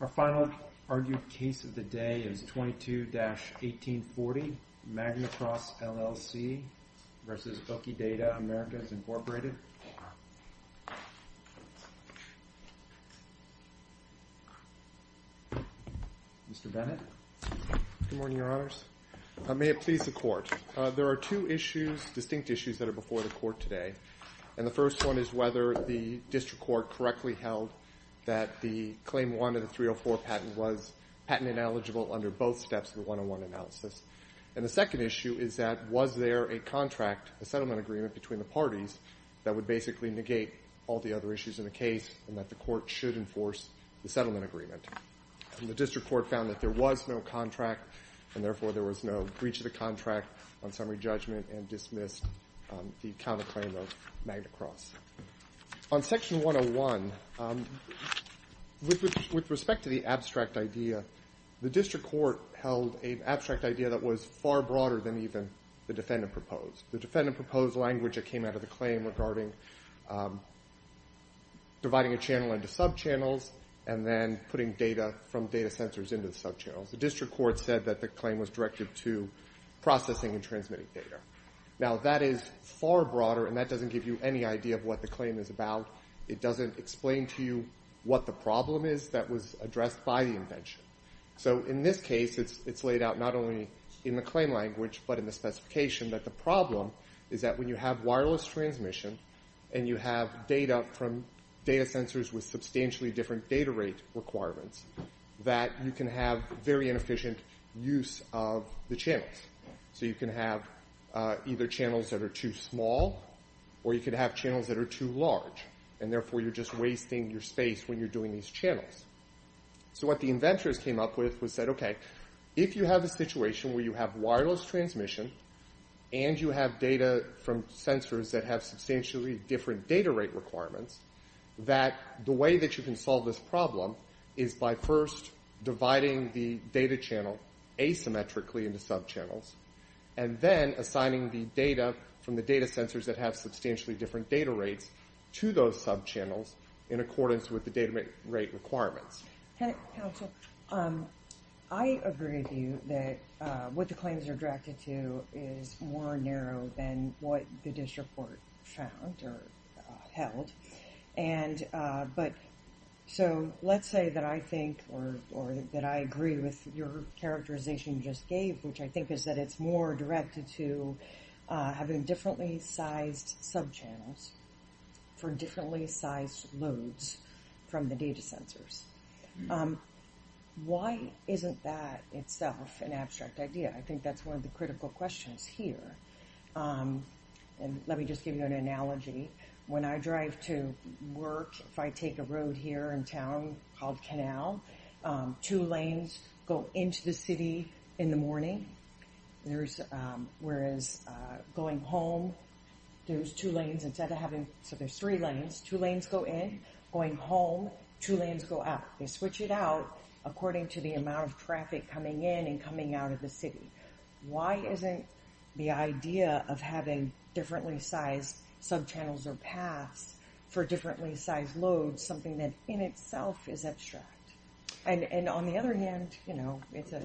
Our final argued case of the day is 22-1840, Magnacross LLC v. Oki Data Americas, Incorporated. Mr. Bennett. Good morning, Your Honors. May it please the Court. There are two issues, distinct issues, that are before the Court today. And the first one is whether the District Court correctly held that the Claim 1 of the 304 patent was patent ineligible under both steps of the 101 analysis. And the second issue is that was there a contract, a settlement agreement, between the parties that would basically negate all the other issues in the case and that the Court should enforce the settlement agreement. And the District Court found that there was no contract, and therefore there was no breach of the contract on summary judgment and dismissed the counterclaim of Magnacross. On Section 101, with respect to the abstract idea, the District Court held an abstract idea that was far broader than even the defendant proposed. The defendant proposed language that came out of the claim regarding dividing a channel into subchannels and then putting data from data sensors into the subchannels. The District Court said that the claim was directed to processing and transmitting data. Now, that is far broader, and that doesn't give you any idea of what the claim is about. It doesn't explain to you what the problem is that was addressed by the invention. So in this case, it's laid out not only in the claim language but in the specification that the problem is that when you have wireless transmission and you have data from data sensors with substantially different data rate requirements, that you can have very inefficient use of the channels. So you can have either channels that are too small or you can have channels that are too large, and therefore you're just wasting your space when you're doing these channels. So what the inventors came up with was that, okay, if you have a situation where you have wireless transmission and you have data from sensors that have substantially different data rate requirements, that the way that you can solve this problem is by first dividing the data channel asymmetrically into subchannels and then assigning the data from the data sensors that have substantially different data rates to those subchannels in accordance with the data rate requirements. I agree with you that what the claims are directed to is more narrow than what the district court found or held. So let's say that I think or that I agree with your characterization you just gave, which I think is that it's more directed to having differently sized subchannels for differently sized loads from the data sensors. Why isn't that itself an abstract idea? I think that's one of the critical questions here. And let me just give you an analogy. When I drive to work, if I take a road here in town called Canal, two lanes go into the city in the morning. Whereas going home, there's two lanes instead of having... So there's three lanes, two lanes go in, going home, two lanes go out. They switch it out according to the amount of traffic coming in and coming out of the city. Why isn't the idea of having differently sized subchannels or paths for differently sized loads, something that in itself is abstract? And on the other hand, it's a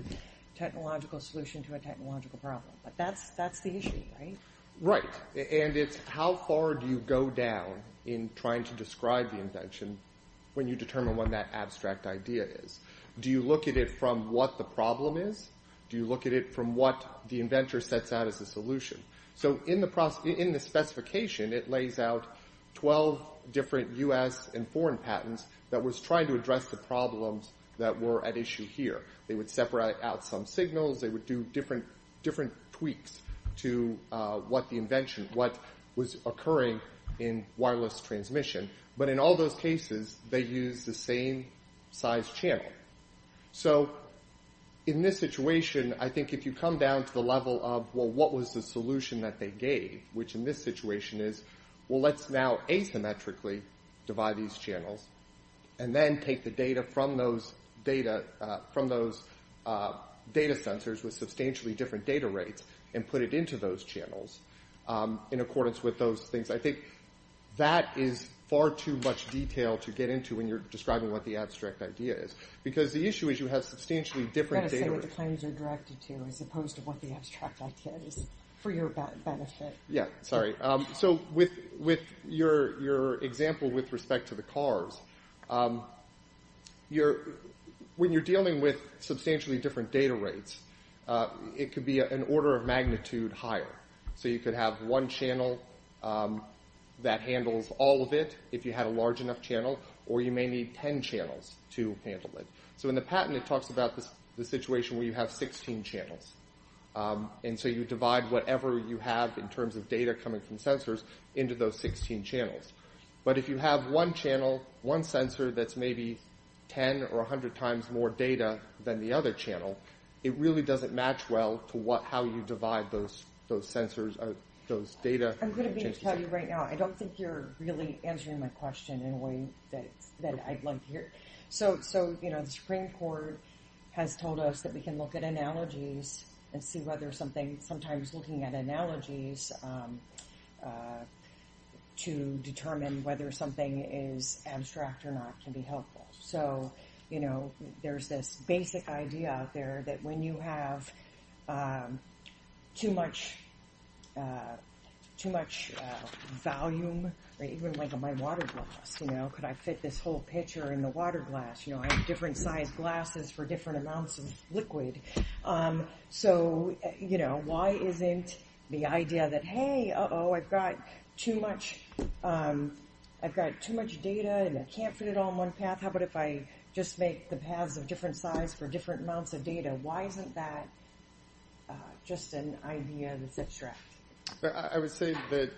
technological solution to a technological problem. But that's the issue, right? Right. And it's how far do you go down in trying to describe the invention when you determine what that abstract idea is? Do you look at it from what the problem is? Do you look at it from what the inventor sets out as a solution? So in the specification, it lays out 12 different U.S. and foreign patents that was trying to address the problems that were at issue here. They would separate out some signals. They would do different tweaks to what the invention, what was occurring in wireless transmission. But in all those cases, they used the same size channel. So in this situation, I think if you come down to the level of, well, what was the solution that they gave, which in this situation is, well, let's now asymmetrically divide these channels and then take the data from those data sensors with substantially different data rates and put it into those channels in accordance with those things. I think that is far too much detail to get into when you're describing what the abstract idea is because the issue is you have substantially different data rates. What the claims are directed to as opposed to what the abstract idea is for your benefit. Yeah, sorry. So with your example with respect to the cars, when you're dealing with substantially different data rates, it could be an order of magnitude higher. So you could have one channel that handles all of it if you had a large enough channel, or you may need 10 channels to handle it. So in the patent, it talks about the situation where you have 16 channels. And so you divide whatever you have in terms of data coming from sensors into those 16 channels. But if you have one channel, one sensor that's maybe 10 or 100 times more data than the other channel, it really doesn't match well to how you divide those sensors or those data. I'm going to be telling you right now, I don't think you're really answering my question in a way that I'd like to hear. So the Supreme Court has told us that we can look at analogies and see whether something, sometimes looking at analogies to determine whether something is abstract or not can be helpful. So there's this basic idea out there that when you have too much volume, even like in my water glass, could I fit this whole pitcher in the water glass? I have different sized glasses for different amounts of liquid. So why isn't the idea that, hey, uh-oh, I've got too much data and I can't fit it all in one path. How about if I just make the paths of different size for different amounts of data? Why isn't that just an idea that's abstract? I would say that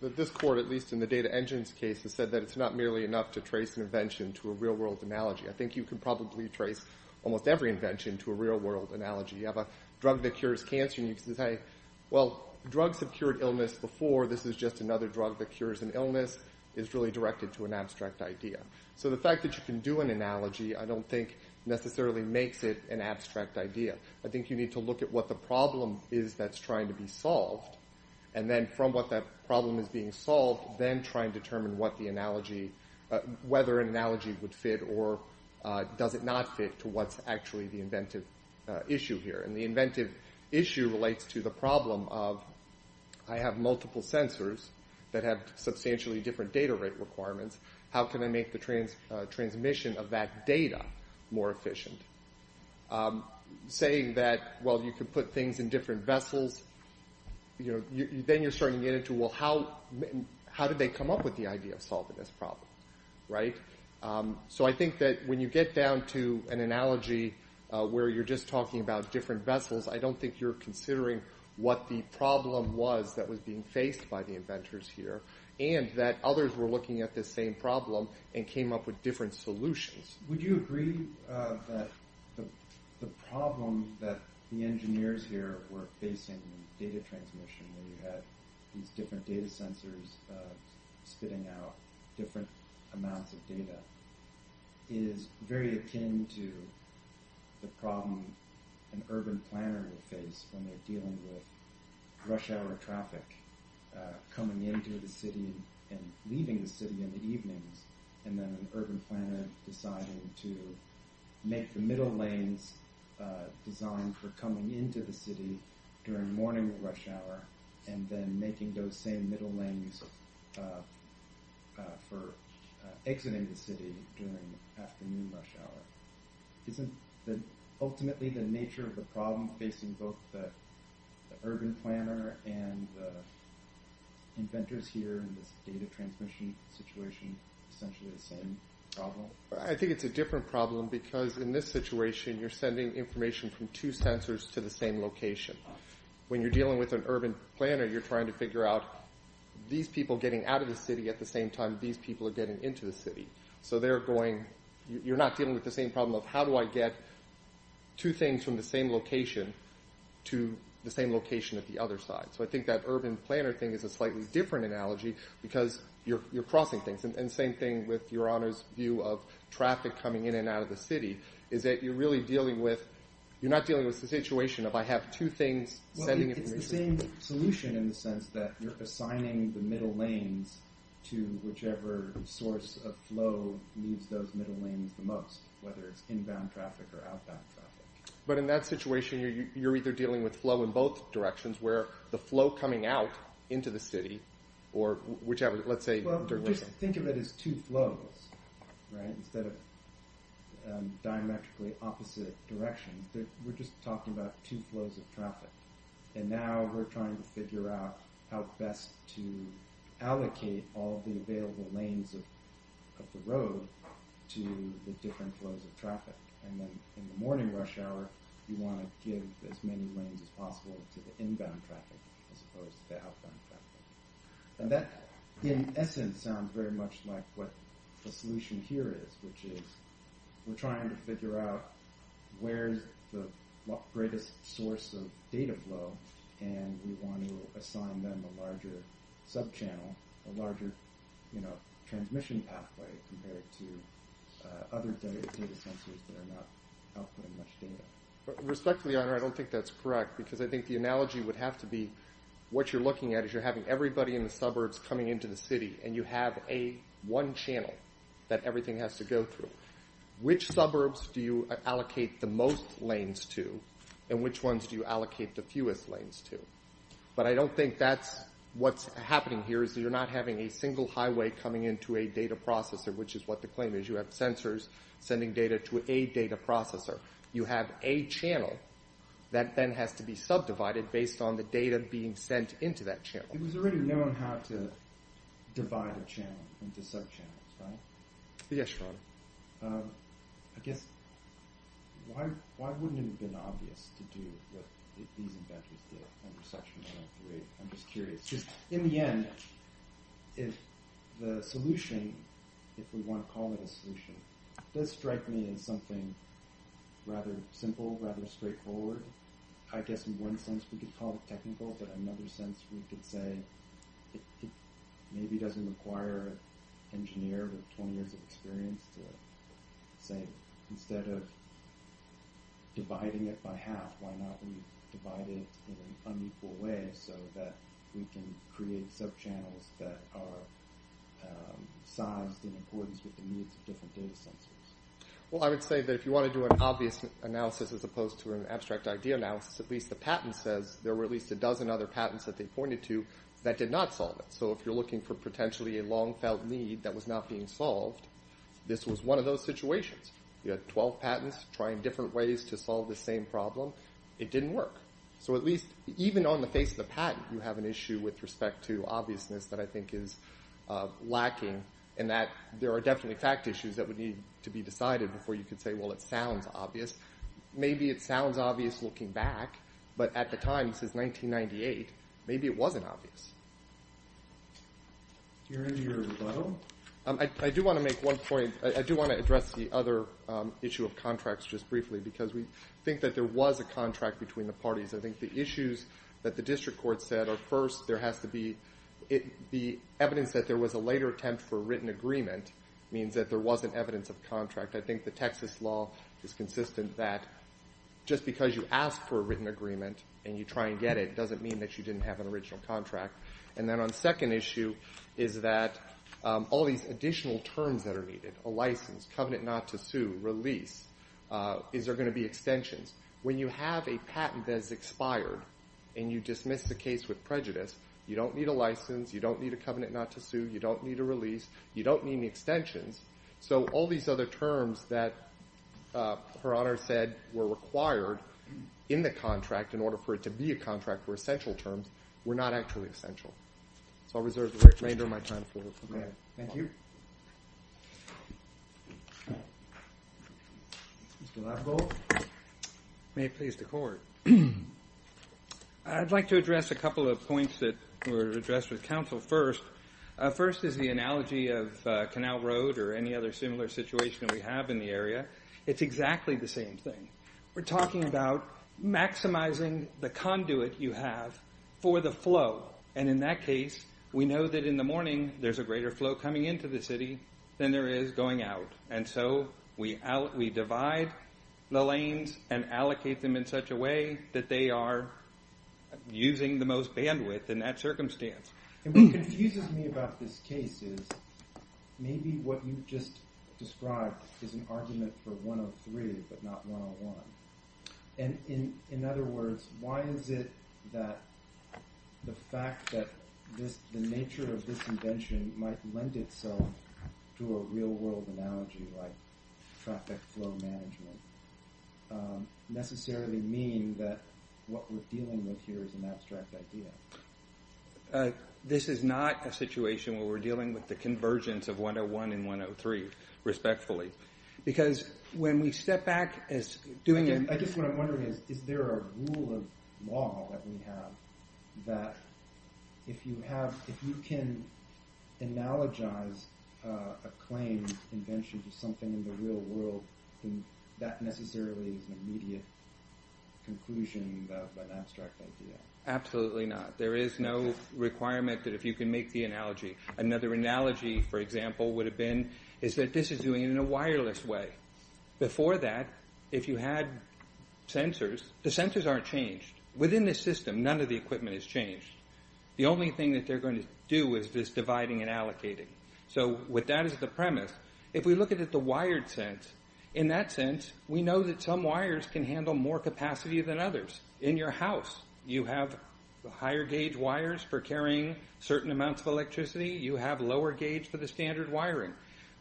this court, at least in the data engines case, has said that it's not merely enough to trace an invention to a real-world analogy. I think you can probably trace almost every invention to a real-world analogy. You have a drug that cures cancer and you can say, well, drugs have cured illness before. This is just another drug that cures an illness. It's really directed to an abstract idea. So the fact that you can do an analogy I don't think necessarily makes it an abstract idea. I think you need to look at what the problem is that's trying to be solved and then from what that problem is being solved, then try and determine whether an analogy would fit or does it not fit to what's actually the inventive issue here. And the inventive issue relates to the problem of I have multiple sensors that have substantially different data rate requirements. How can I make the transmission of that data more efficient? Saying that, well, you can put things in different vessels. Then you're starting to get into, well, how did they come up with the idea of solving this problem? So I think that when you get down to an analogy where you're just talking about different vessels, I don't think you're considering what the problem was that was being faced by the inventors here and that others were looking at this same problem and came up with different solutions. Would you agree that the problem that the engineers here were facing in data transmission where you had these different data sensors spitting out different amounts of data is very akin to the problem an urban planner would face when they're dealing with rush hour traffic coming into the city and leaving the city in the evenings and then an urban planner deciding to make the middle lanes designed for coming into the city during morning rush hour and then making those same middle lanes for exiting the city during afternoon rush hour. Isn't that ultimately the nature of the problem facing both the urban planner and the inventors here in this data transmission situation essentially the same problem? I think it's a different problem because in this situation you're sending information from two sensors to the same location. When you're dealing with an urban planner you're trying to figure out these people getting out of the city at the same time these people are getting into the city. So you're not dealing with the same problem of how do I get two things from the same location to the same location at the other side. So I think that urban planner thing is a slightly different analogy because you're crossing things and same thing with your honors view of traffic coming in and out of the city is that you're not dealing with the situation of I have two things sending information. It's the same solution in the sense that you're assigning the middle lanes to whichever source of flow moves those middle lanes the most whether it's inbound traffic or outbound traffic. But in that situation you're either dealing with flow in both directions where the flow coming out into the city or whichever let's say. Just think of it as two flows instead of diametrically opposite directions. We're just talking about two flows of traffic and now we're trying to figure out how best to allocate all the available lanes of the road to the different flows of traffic. And then in the morning rush hour you want to give as many lanes as possible to the inbound traffic as opposed to the outbound traffic. And that in essence sounds very much like what the solution here is which is we're trying to figure out where's the greatest source of data flow and we want to assign them a larger sub-channel, a larger transmission pathway compared to other data sensors that are not outputting much data. Respectfully, I don't think that's correct because I think the analogy would have to be what you're looking at is you're having everybody in the suburbs coming into the city and you have a one channel that everything has to go through. Which suburbs do you allocate the most lanes to and which ones do you allocate the fewest lanes to? But I don't think that's what's happening here is you're not having a single highway coming into a data processor which is what the claim is. You have sensors sending data to a data processor. You have a channel that then has to be subdivided based on the data being sent into that channel. It was already known how to divide a channel into sub-channels, right? Yes, John. I guess why wouldn't it have been obvious to do what these inventors did under Section 103? I'm just curious. In the end, if the solution, if we want to call it a solution, it does strike me as something rather simple, rather straightforward. I guess in one sense we could call it technical but in another sense we could say it maybe doesn't require an engineer with 20 years of experience to say instead of dividing it by half, why not divide it in an unequal way? So that we can create sub-channels that are sized in accordance with the needs of different data sensors. Well, I would say that if you want to do an obvious analysis as opposed to an abstract idea analysis, at least the patent says there were at least a dozen other patents that they pointed to that did not solve it. So if you're looking for potentially a long-felt need that was not being solved, this was one of those situations. You had 12 patents trying different ways to solve the same problem. It didn't work. So at least even on the face of the patent, you have an issue with respect to obviousness that I think is lacking in that there are definitely fact issues that would need to be decided before you could say, well, it sounds obvious. Maybe it sounds obvious looking back, but at the time, since 1998, maybe it wasn't obvious. Do you want to do your rebuttal? I do want to make one point. I do want to address the other issue of contracts just briefly because we think that there was a contract between the parties. I think the issues that the district court said are, first, there has to be evidence that there was a later attempt for a written agreement means that there wasn't evidence of contract. I think the Texas law is consistent that just because you ask for a written agreement and you try and get it doesn't mean that you didn't have an original contract. And then on the second issue is that all these additional terms that are needed, a license, covenant not to sue, release, is there going to be extensions? When you have a patent that is expired and you dismiss the case with prejudice, you don't need a license, you don't need a covenant not to sue, you don't need a release, you don't need any extensions. So all these other terms that Her Honor said were required in the contract in order for it to be a contract were essential terms were not actually essential. So I'll reserve the remainder of my time for the committee. Thank you. Mr. Labovold. May it please the court. I'd like to address a couple of points that were addressed with counsel first. First is the analogy of Canal Road or any other similar situation we have in the area. It's exactly the same thing. We're talking about maximizing the conduit you have for the flow. And in that case, we know that in the morning there's a greater flow coming into the city than there is going out. And so we divide the lanes and allocate them in such a way that they are using the most bandwidth in that circumstance. What confuses me about this case is maybe what you just described is an argument for 103 but not 101. In other words, why is it that the fact that the nature of this invention might lend itself to a real-world analogy like traffic flow management necessarily mean that what we're dealing with here is an abstract idea? This is not a situation where we're dealing with the convergence of 101 and 103, respectfully. Because when we step back... I guess what I'm wondering is, is there a rule of law that we have that if you can analogize a claimed invention to something in the real world, then that necessarily is an immediate conclusion about that abstract idea. Absolutely not. Another analogy, for example, would have been is that this is doing it in a wireless way. Before that, if you had sensors, the sensors aren't changed. Within the system, none of the equipment is changed. The only thing that they're going to do is this dividing and allocating. So with that as the premise, if we look at it the wired sense, in that sense, we know that some wires can handle more capacity than others. In your house, you have higher gauge wires for carrying certain amounts of electricity. You have lower gauge for the standard wiring.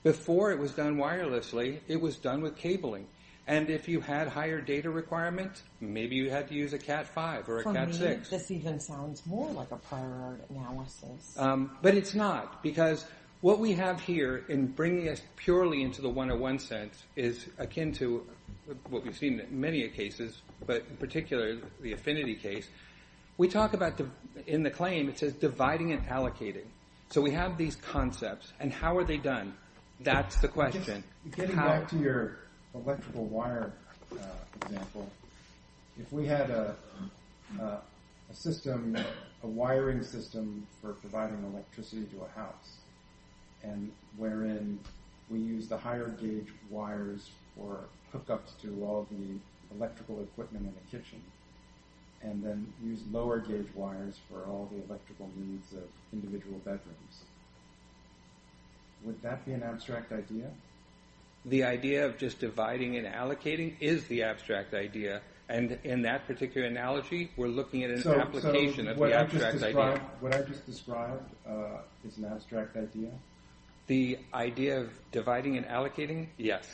Before it was done wirelessly, it was done with cabling. And if you had higher data requirements, maybe you had to use a Cat5 or a Cat6. For me, this even sounds more like a prior analysis. But it's not, because what we have here in bringing us purely into the 101 sense is akin to what we've seen in many cases, but in particular the Affinity case. We talk about in the claim, it says dividing and allocating. So we have these concepts, and how are they done? That's the question. Getting back to your electrical wire example, if we had a system, a wiring system for providing electricity to a house, and wherein we use the higher gauge wires for hookups to all the electrical equipment in the kitchen, and then use lower gauge wires for all the electrical needs of individual bedrooms, would that be an abstract idea? The idea of just dividing and allocating is the abstract idea. And in that particular analogy, we're looking at an application of the abstract idea. What I just described is an abstract idea? The idea of dividing and allocating? Yes.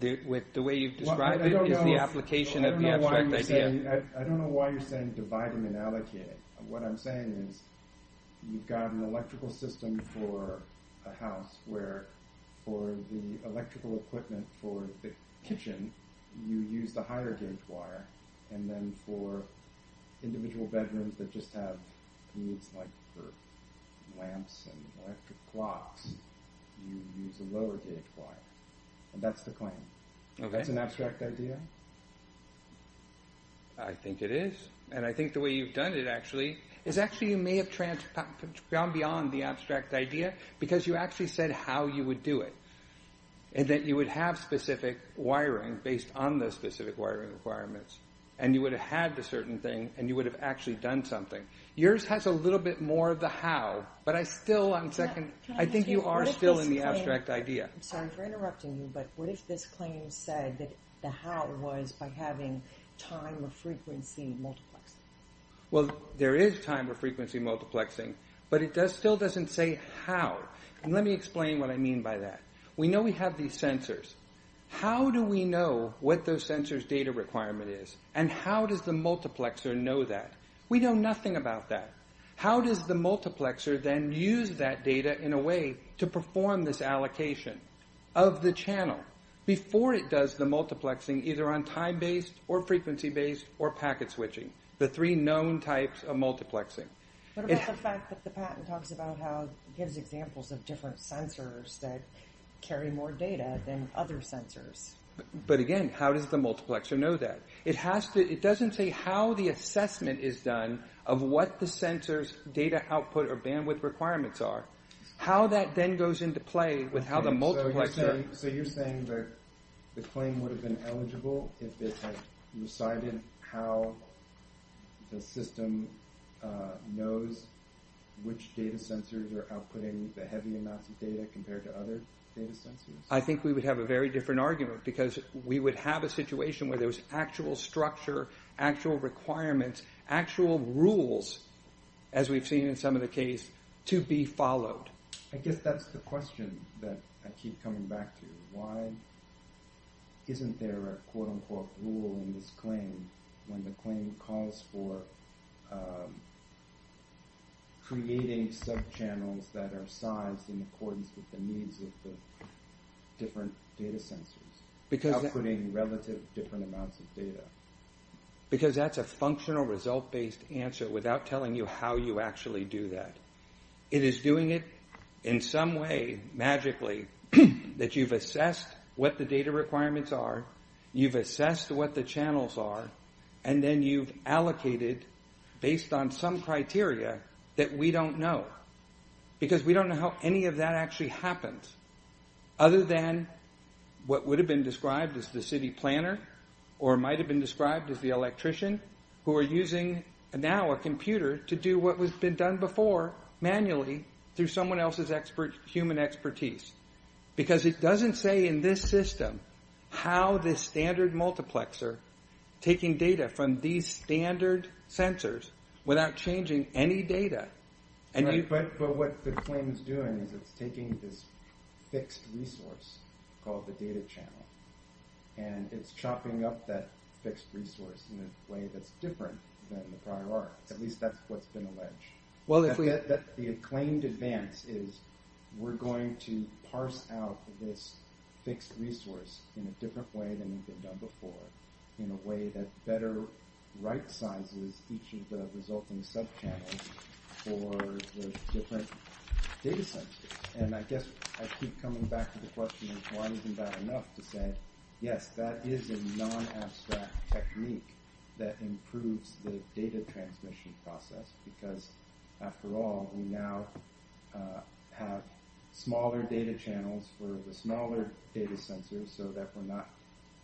The way you've described it is the application of the abstract idea. I don't know why you're saying dividing and allocating. What I'm saying is you've got an electrical system for a house where for the electrical equipment for the kitchen, you use the higher gauge wire, and then for individual bedrooms that just have needs like for lamps and electric blocks, you use a lower gauge wire. And that's the claim. Okay. That's an abstract idea? I think it is. And I think the way you've done it, actually, is actually you may have gone beyond the abstract idea because you actually said how you would do it, and that you would have specific wiring based on those specific wiring requirements, and you would have had the certain thing, and you would have actually done something. Yours has a little bit more of the how, but I still, on second, I think you are still in the abstract idea. I'm sorry for interrupting you, but what if this claim said that the how was by having time or frequency multiplexing? Well, there is time or frequency multiplexing, but it still doesn't say how. Let me explain what I mean by that. We know we have these sensors. How do we know what those sensors' data requirement is, and how does the multiplexer know that? We know nothing about that. How does the multiplexer then use that data in a way to perform this allocation of the channel before it does the multiplexing either on time-based or frequency-based or packet switching, the three known types of multiplexing? What about the fact that the patent talks about how it gives examples of different sensors that carry more data than other sensors? But again, how does the multiplexer know that? It doesn't say how the assessment is done of what the sensor's data output or bandwidth requirements are. How that then goes into play with how the multiplexer... which data sensors are outputting the heavy amounts of data compared to other data sensors? I think we would have a very different argument because we would have a situation where there was actual structure, actual requirements, actual rules, as we've seen in some of the case, to be followed. I guess that's the question that I keep coming back to. Why isn't there a quote-unquote rule in this claim when the claim calls for creating subchannels that are sized in accordance with the needs of the different data sensors, outputting relative different amounts of data? Because that's a functional result-based answer without telling you how you actually do that. It is doing it in some way, magically, that you've assessed what the data requirements are, you've assessed what the channels are, and then you've allocated based on some criteria that we don't know. Because we don't know how any of that actually happens other than what would have been described as the city planner or might have been described as the electrician who are using now a computer to do what has been done before manually through someone else's human expertise. Because it doesn't say in this system how this standard multiplexer, taking data from these standard sensors without changing any data... But what the claim is doing is it's taking this fixed resource called the data channel and it's chopping up that fixed resource in a way that's different than the prior arc. At least that's what's been alleged. The acclaimed advance is we're going to parse out this fixed resource in a different way than we've done before, in a way that better right-sizes each of the resulting subchannels for the different data sensors. I guess I keep coming back to the question of why isn't that enough to say, yes, that is a non-abstract technique that improves the data transmission process. Because after all, we now have smaller data channels for the smaller data sensors so that we're not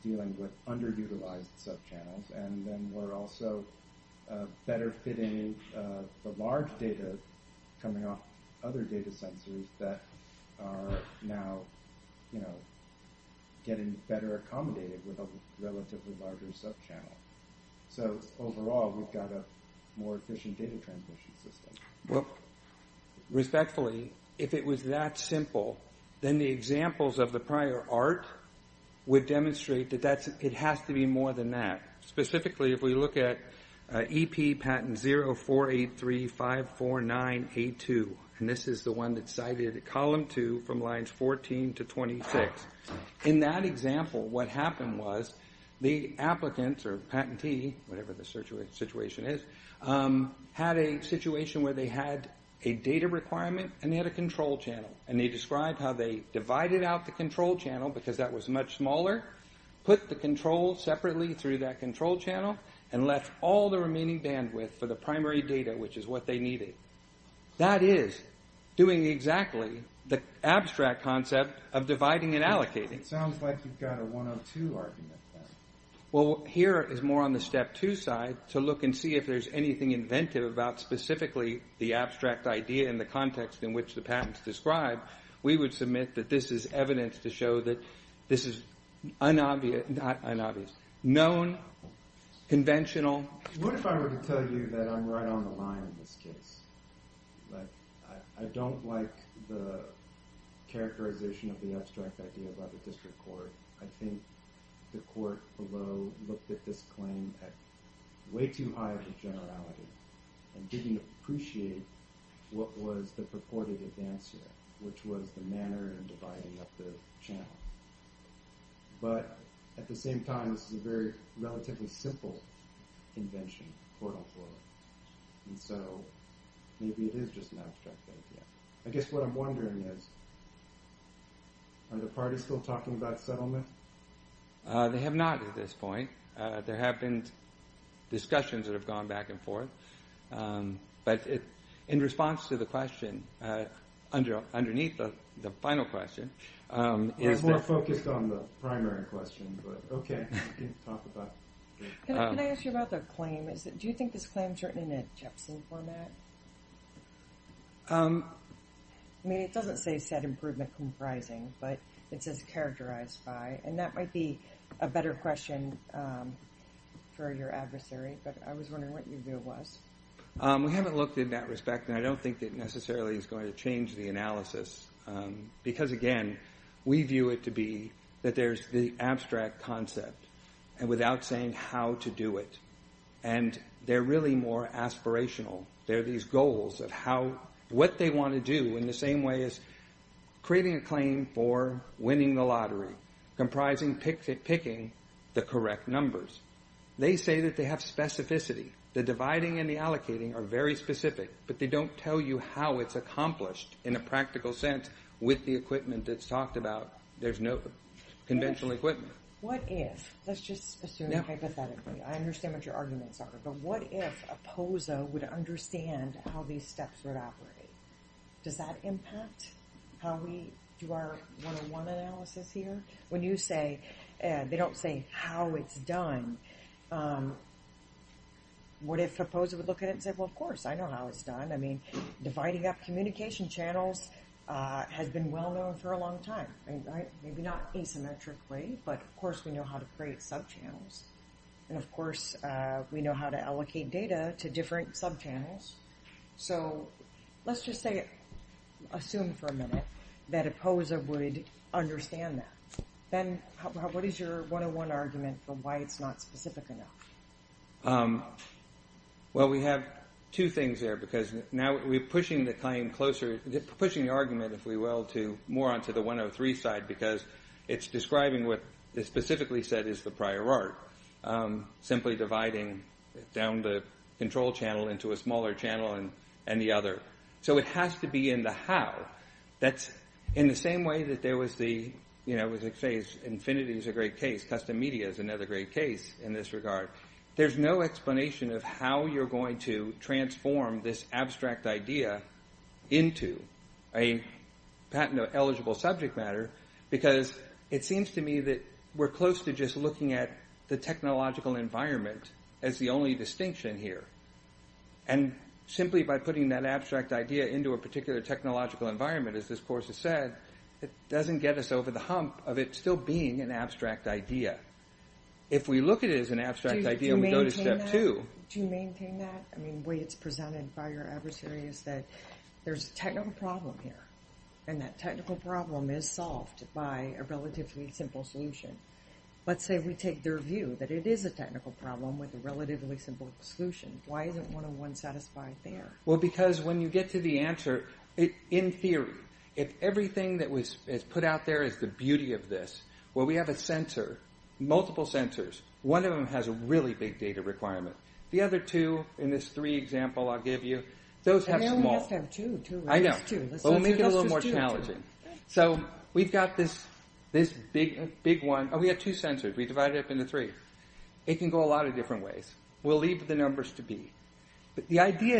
dealing with underutilized subchannels. And then we're also better fitting the large data coming off other data sensors that are now getting better accommodated with a relatively larger subchannel. So overall, we've got a more efficient data transmission system. Well, respectfully, if it was that simple, then the examples of the prior arc would demonstrate that it has to be more than that. Specifically, if we look at EP patent 048354982, and this is the one that cited column 2 from lines 14 to 26. In that example, what happened was the applicant or patentee, whatever the situation is, had a situation where they had a data requirement and they had a control channel. And they described how they divided out the control channel because that was much smaller, put the control separately through that control channel, and left all the remaining bandwidth for the primary data, which is what they needed. That is doing exactly the abstract concept of dividing and allocating. It sounds like you've got a 102 argument. Well, here is more on the step 2 side to look and see if there's anything inventive about specifically the abstract idea and the context in which the patents described. We would submit that this is evidence to show that this is unobvious, not unobvious, known, conventional. What if I were to tell you that I'm right on the line in this case? I don't like the characterization of the abstract idea by the district court. I think the court below looked at this claim at way too high of a generality and didn't appreciate what was the purported advance here, which was the manner in dividing up the channel. But at the same time, this is a very relatively simple invention, and so maybe it is just an abstract idea. I guess what I'm wondering is, are the parties still talking about settlement? They have not at this point. There have been discussions that have gone back and forth. But in response to the question, underneath the final question, I was more focused on the primary question, but okay, I can talk about it. Can I ask you about the claim? Do you think this claim is written in a Jepson format? I mean, it doesn't say set improvement comprising, but it says characterized by, and that might be a better question for your adversary, but I was wondering what your view was. We haven't looked in that respect, and I don't think it necessarily is going to change the analysis, because, again, we view it to be that there's the abstract concept and without saying how to do it. And they're really more aspirational. They're these goals of what they want to do in the same way as creating a claim for winning the lottery comprising picking the correct numbers. They say that they have specificity. The dividing and the allocating are very specific, but they don't tell you how it's accomplished in a practical sense with the equipment that's talked about. There's no conventional equipment. What if, let's just assume hypothetically, I understand what your arguments are, but what if a POSA would understand how these steps would operate? Does that impact how we do our one-on-one analysis here? When you say they don't say how it's done, what if a POSA would look at it and say, well, of course, I know how it's done. I mean, dividing up communication channels has been well-known for a long time, maybe not asymmetrically, but, of course, we know how to create subchannels, and, of course, we know how to allocate data to different subchannels. So let's just assume for a minute that a POSA would understand that. Ben, what is your one-on-one argument for why it's not specific enough? Well, we have two things there because now we're pushing the claim closer, pushing the argument, if we will, more onto the 103 side because it's describing what is specifically said is the prior art, simply dividing down the control channel into a smaller channel and the other. So it has to be in the how. That's in the same way that there was the, you know, custom media is another great case in this regard. There's no explanation of how you're going to transform this abstract idea into a patent-eligible subject matter because it seems to me that we're close to just looking at the technological environment as the only distinction here. And simply by putting that abstract idea into a particular technological environment, as this course has said, it doesn't get us over the hump of it still being an abstract idea. If we look at it as an abstract idea and we go to step two. Do you maintain that? I mean, the way it's presented by your adversary is that there's a technical problem here and that technical problem is solved by a relatively simple solution. Let's say we take their view that it is a technical problem with a relatively simple solution. Why isn't one-on-one satisfied there? Well, because when you get to the answer, in theory, if everything that was put out there is the beauty of this, well, we have a sensor, multiple sensors. One of them has a really big data requirement. The other two in this three example I'll give you, those have small... And they only have to have two. I know. Let's make it a little more challenging. So we've got this big one. Oh, we have two sensors. We divide it up into three. It can go a lot of different ways. We'll leave the numbers to be. But the idea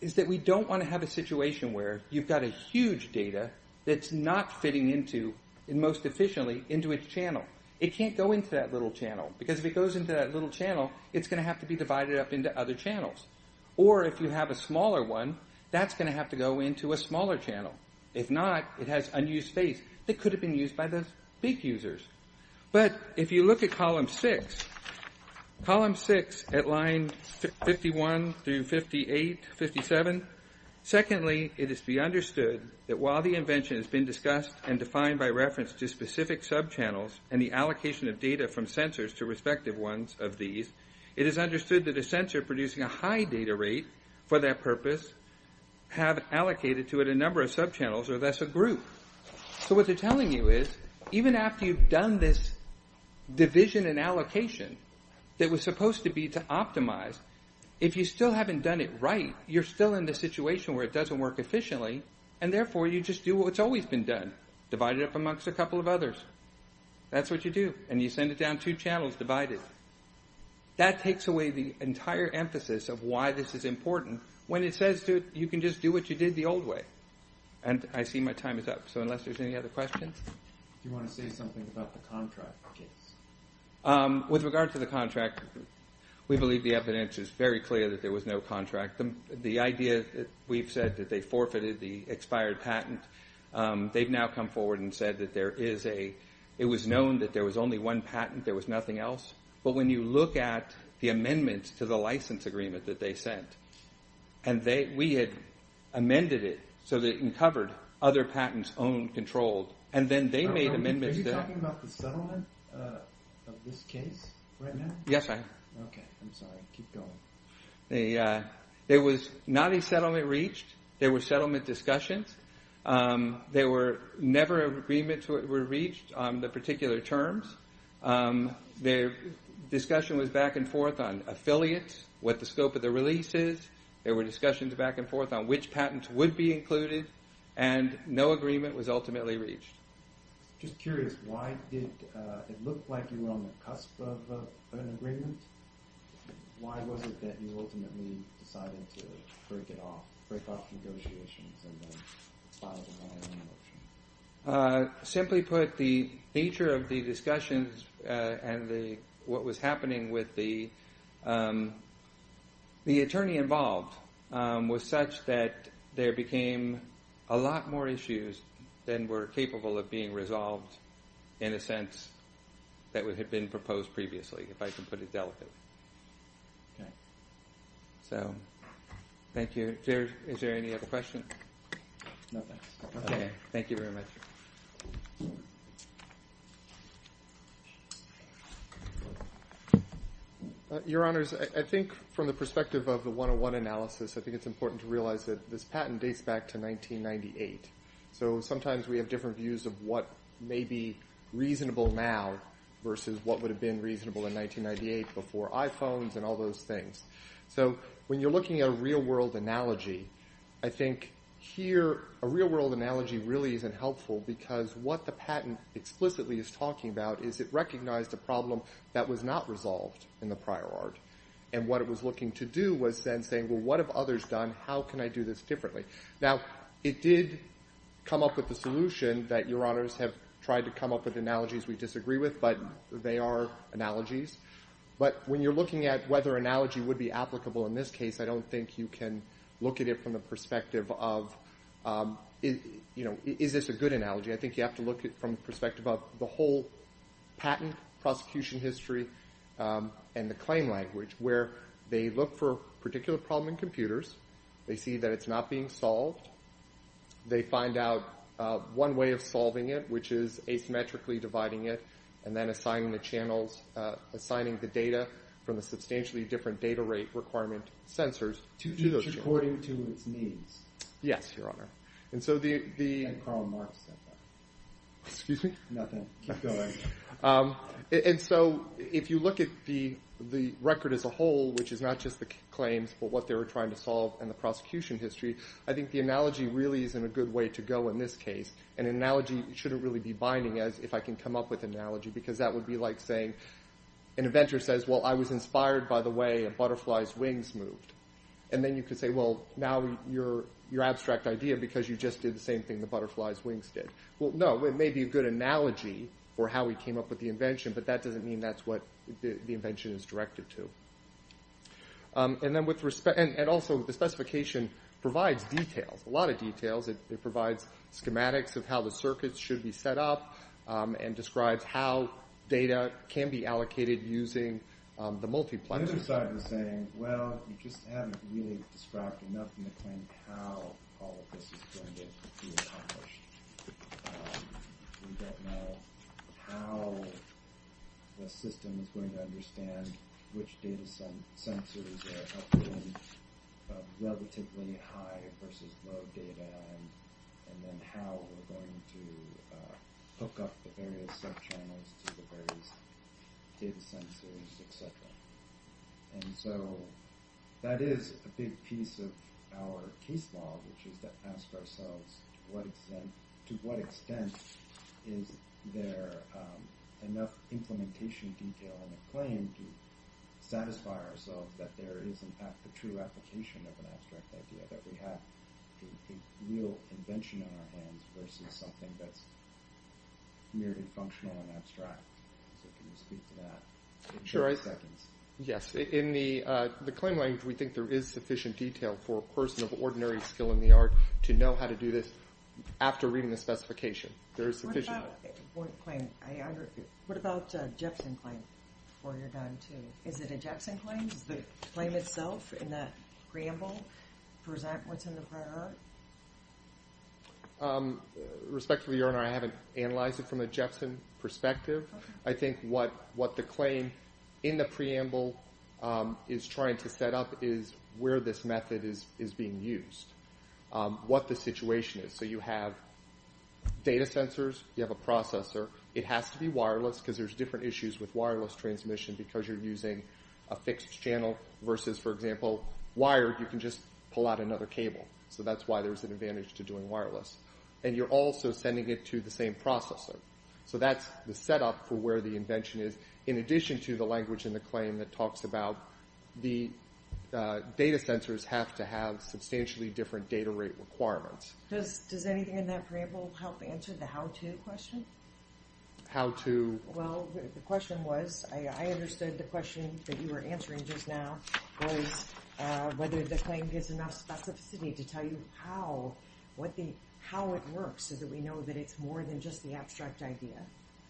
is that we don't want to have a situation where you've got a huge data that's not fitting into, and most efficiently, into its channel. It can't go into that little channel because if it goes into that little channel, it's going to have to be divided up into other channels. Or if you have a smaller one, that's going to have to go into a smaller channel. If not, it has unused space that could have been used by the big users. But if you look at column six, column six at line 51 through 58, 57, secondly, it is to be understood that while the invention has been discussed and defined by reference to specific subchannels and the allocation of data from sensors to respective ones of these, it is understood that a sensor producing a high data rate for that purpose have allocated to it a number of subchannels, or thus a group. So what they're telling you is even after you've done this division and allocation that was supposed to be to optimize, if you still haven't done it right, you're still in the situation where it doesn't work efficiently, and therefore you just do what's always been done, divide it up amongst a couple of others. That's what you do, and you send it down two channels divided. That takes away the entire emphasis of why this is important when it says you can just do what you did the old way. I see my time is up, so unless there's any other questions? Do you want to say something about the contract case? With regard to the contract, we believe the evidence is very clear that there was no contract. The idea that we've said that they forfeited the expired patent, they've now come forward and said that it was known that there was only one patent, there was nothing else. But when you look at the amendments to the license agreement that they sent, and we had amended it so that it covered other patents owned, controlled, and then they made amendments there. Are you talking about the settlement of this case right now? Yes, I am. Okay, I'm sorry. Keep going. There was not a settlement reached. There were settlement discussions. There were never agreements were reached on the particular terms. Their discussion was back and forth on affiliates, what the scope of the release is. There were discussions back and forth on which patents would be included, and no agreement was ultimately reached. I'm just curious. Why did it look like you were on the cusp of an agreement? Why was it that you ultimately decided to break it off, break off the negotiations and then file the matter in motion? Simply put, the nature of the discussions and what was happening with the attorney involved was such that there became a lot more issues than were capable of being resolved in a sense that had been proposed previously, if I can put it delicately. Thank you. Is there any other questions? No, thanks. Okay, thank you very much. Your Honors, I think from the perspective of the 101 analysis, I think it's important to realize that this patent dates back to 1998. Sometimes we have different views of what may be reasonable now versus what would have been reasonable in 1998 before iPhones and all those things. When you're looking at a real-world analogy, I think here a real-world analogy really isn't helpful because what the patent explicitly is talking about is it recognized a problem that was not resolved in the prior art, and what it was looking to do was then saying, Well, what have others done? How can I do this differently? Now, it did come up with a solution that Your Honors have tried to come up with, analogies we disagree with, but they are analogies. But when you're looking at whether analogy would be applicable in this case, I don't think you can look at it from the perspective of is this a good analogy. I think you have to look at it from the perspective of the whole patent prosecution history and the claim language where they look for a particular problem in computers. They see that it's not being solved. They find out one way of solving it, which is asymmetrically dividing it and then assigning the channels, assigning the data from the substantially different data rate requirement sensors to those channels. It's according to its needs. Yes, Your Honor. And Karl Marx said that. Excuse me? Nothing. Keep going. And so if you look at the record as a whole, which is not just the claims but what they were trying to solve and the prosecution history, I think the analogy really isn't a good way to go in this case, and an analogy shouldn't really be binding as if I can come up with an analogy because that would be like saying an inventor says, well, I was inspired by the way a butterfly's wings moved. And then you could say, well, now you're abstract idea because you just did the same thing the butterfly's wings did. Well, no, it may be a good analogy for how we came up with the invention, but that doesn't mean that's what the invention is directed to. And also the specification provides details, a lot of details. It provides schematics of how the circuits should be set up and describes how data can be allocated using the multipliers. The other side was saying, well, you just haven't really described enough in the claim how all of this is going to be accomplished. We don't know how the system is going to understand which data sensors are helping relatively high versus low data and then how we're going to hook up the various subchannels to the various data sensors, etc. And so that is a big piece of our case law, which is to ask ourselves to what extent is there enough implementation detail in the claim to satisfy ourselves that there is in fact the true application of an abstract idea that we have a real invention on our hands versus something that's merely functional and abstract. So can you speak to that in a few seconds? Yes, in the claim language we think there is sufficient detail for a person of ordinary skill in the art to know how to do this after reading the specification. There is sufficient detail. What about a Jepson claim before you're done too? Is it a Jepson claim? Is the claim itself in that preamble present what's in the prior art? Respectfully, Your Honor, I haven't analyzed it from a Jepson perspective. I think what the claim in the preamble is trying to set up is where this method is being used, what the situation is. So you have data sensors, you have a processor. It has to be wireless because there's different issues with wireless transmission because you're using a fixed channel versus, for example, wired. You can just pull out another cable. So that's why there's an advantage to doing wireless. And you're also sending it to the same processor. So that's the setup for where the invention is in addition to the language in the claim that talks about the data sensors have to have substantially different data rate requirements. Does anything in that preamble help answer the how-to question? How to? Well, the question was I understood the question that you were answering just now was whether the claim gives enough specificity to tell you how it works so that we know that it's more than just the abstract idea.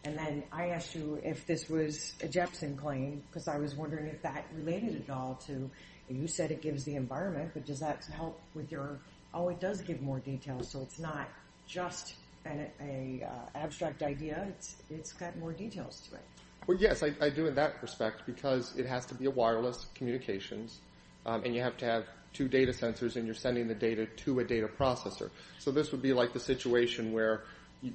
And then I asked you if this was a Jepson claim because I was wondering if that related at all to you said it gives the environment, but does that help with your, oh, it does give more detail, so it's not just an abstract idea. It's got more details to it. Well, yes, I do in that respect because it has to be a wireless communications, and you have to have two data sensors, and you're sending the data to a data processor. So this would be like the situation where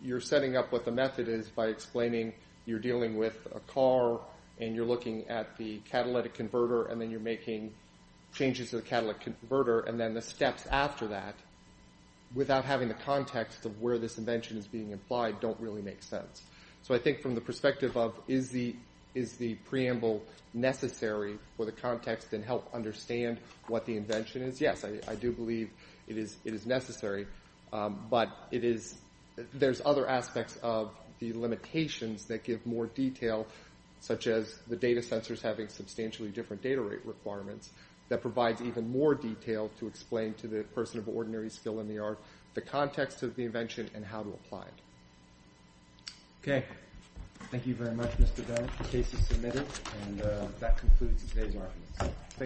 you're setting up what the method is by explaining you're dealing with a car, and you're looking at the catalytic converter, and then you're making changes to the catalytic converter, and then the steps after that without having the context of where this invention is being applied don't really make sense. So I think from the perspective of is the preamble necessary for the context and help understand what the invention is, yes, I do believe it is necessary, but there's other aspects of the limitations that give more detail such as the data sensors having substantially different data rate requirements that provides even more detail to explain to the person of ordinary skill in the art the context of the invention and how to apply it. Okay. Thank you very much, Mr. Bennett. The case is submitted, and that concludes today's arguments. Thank you.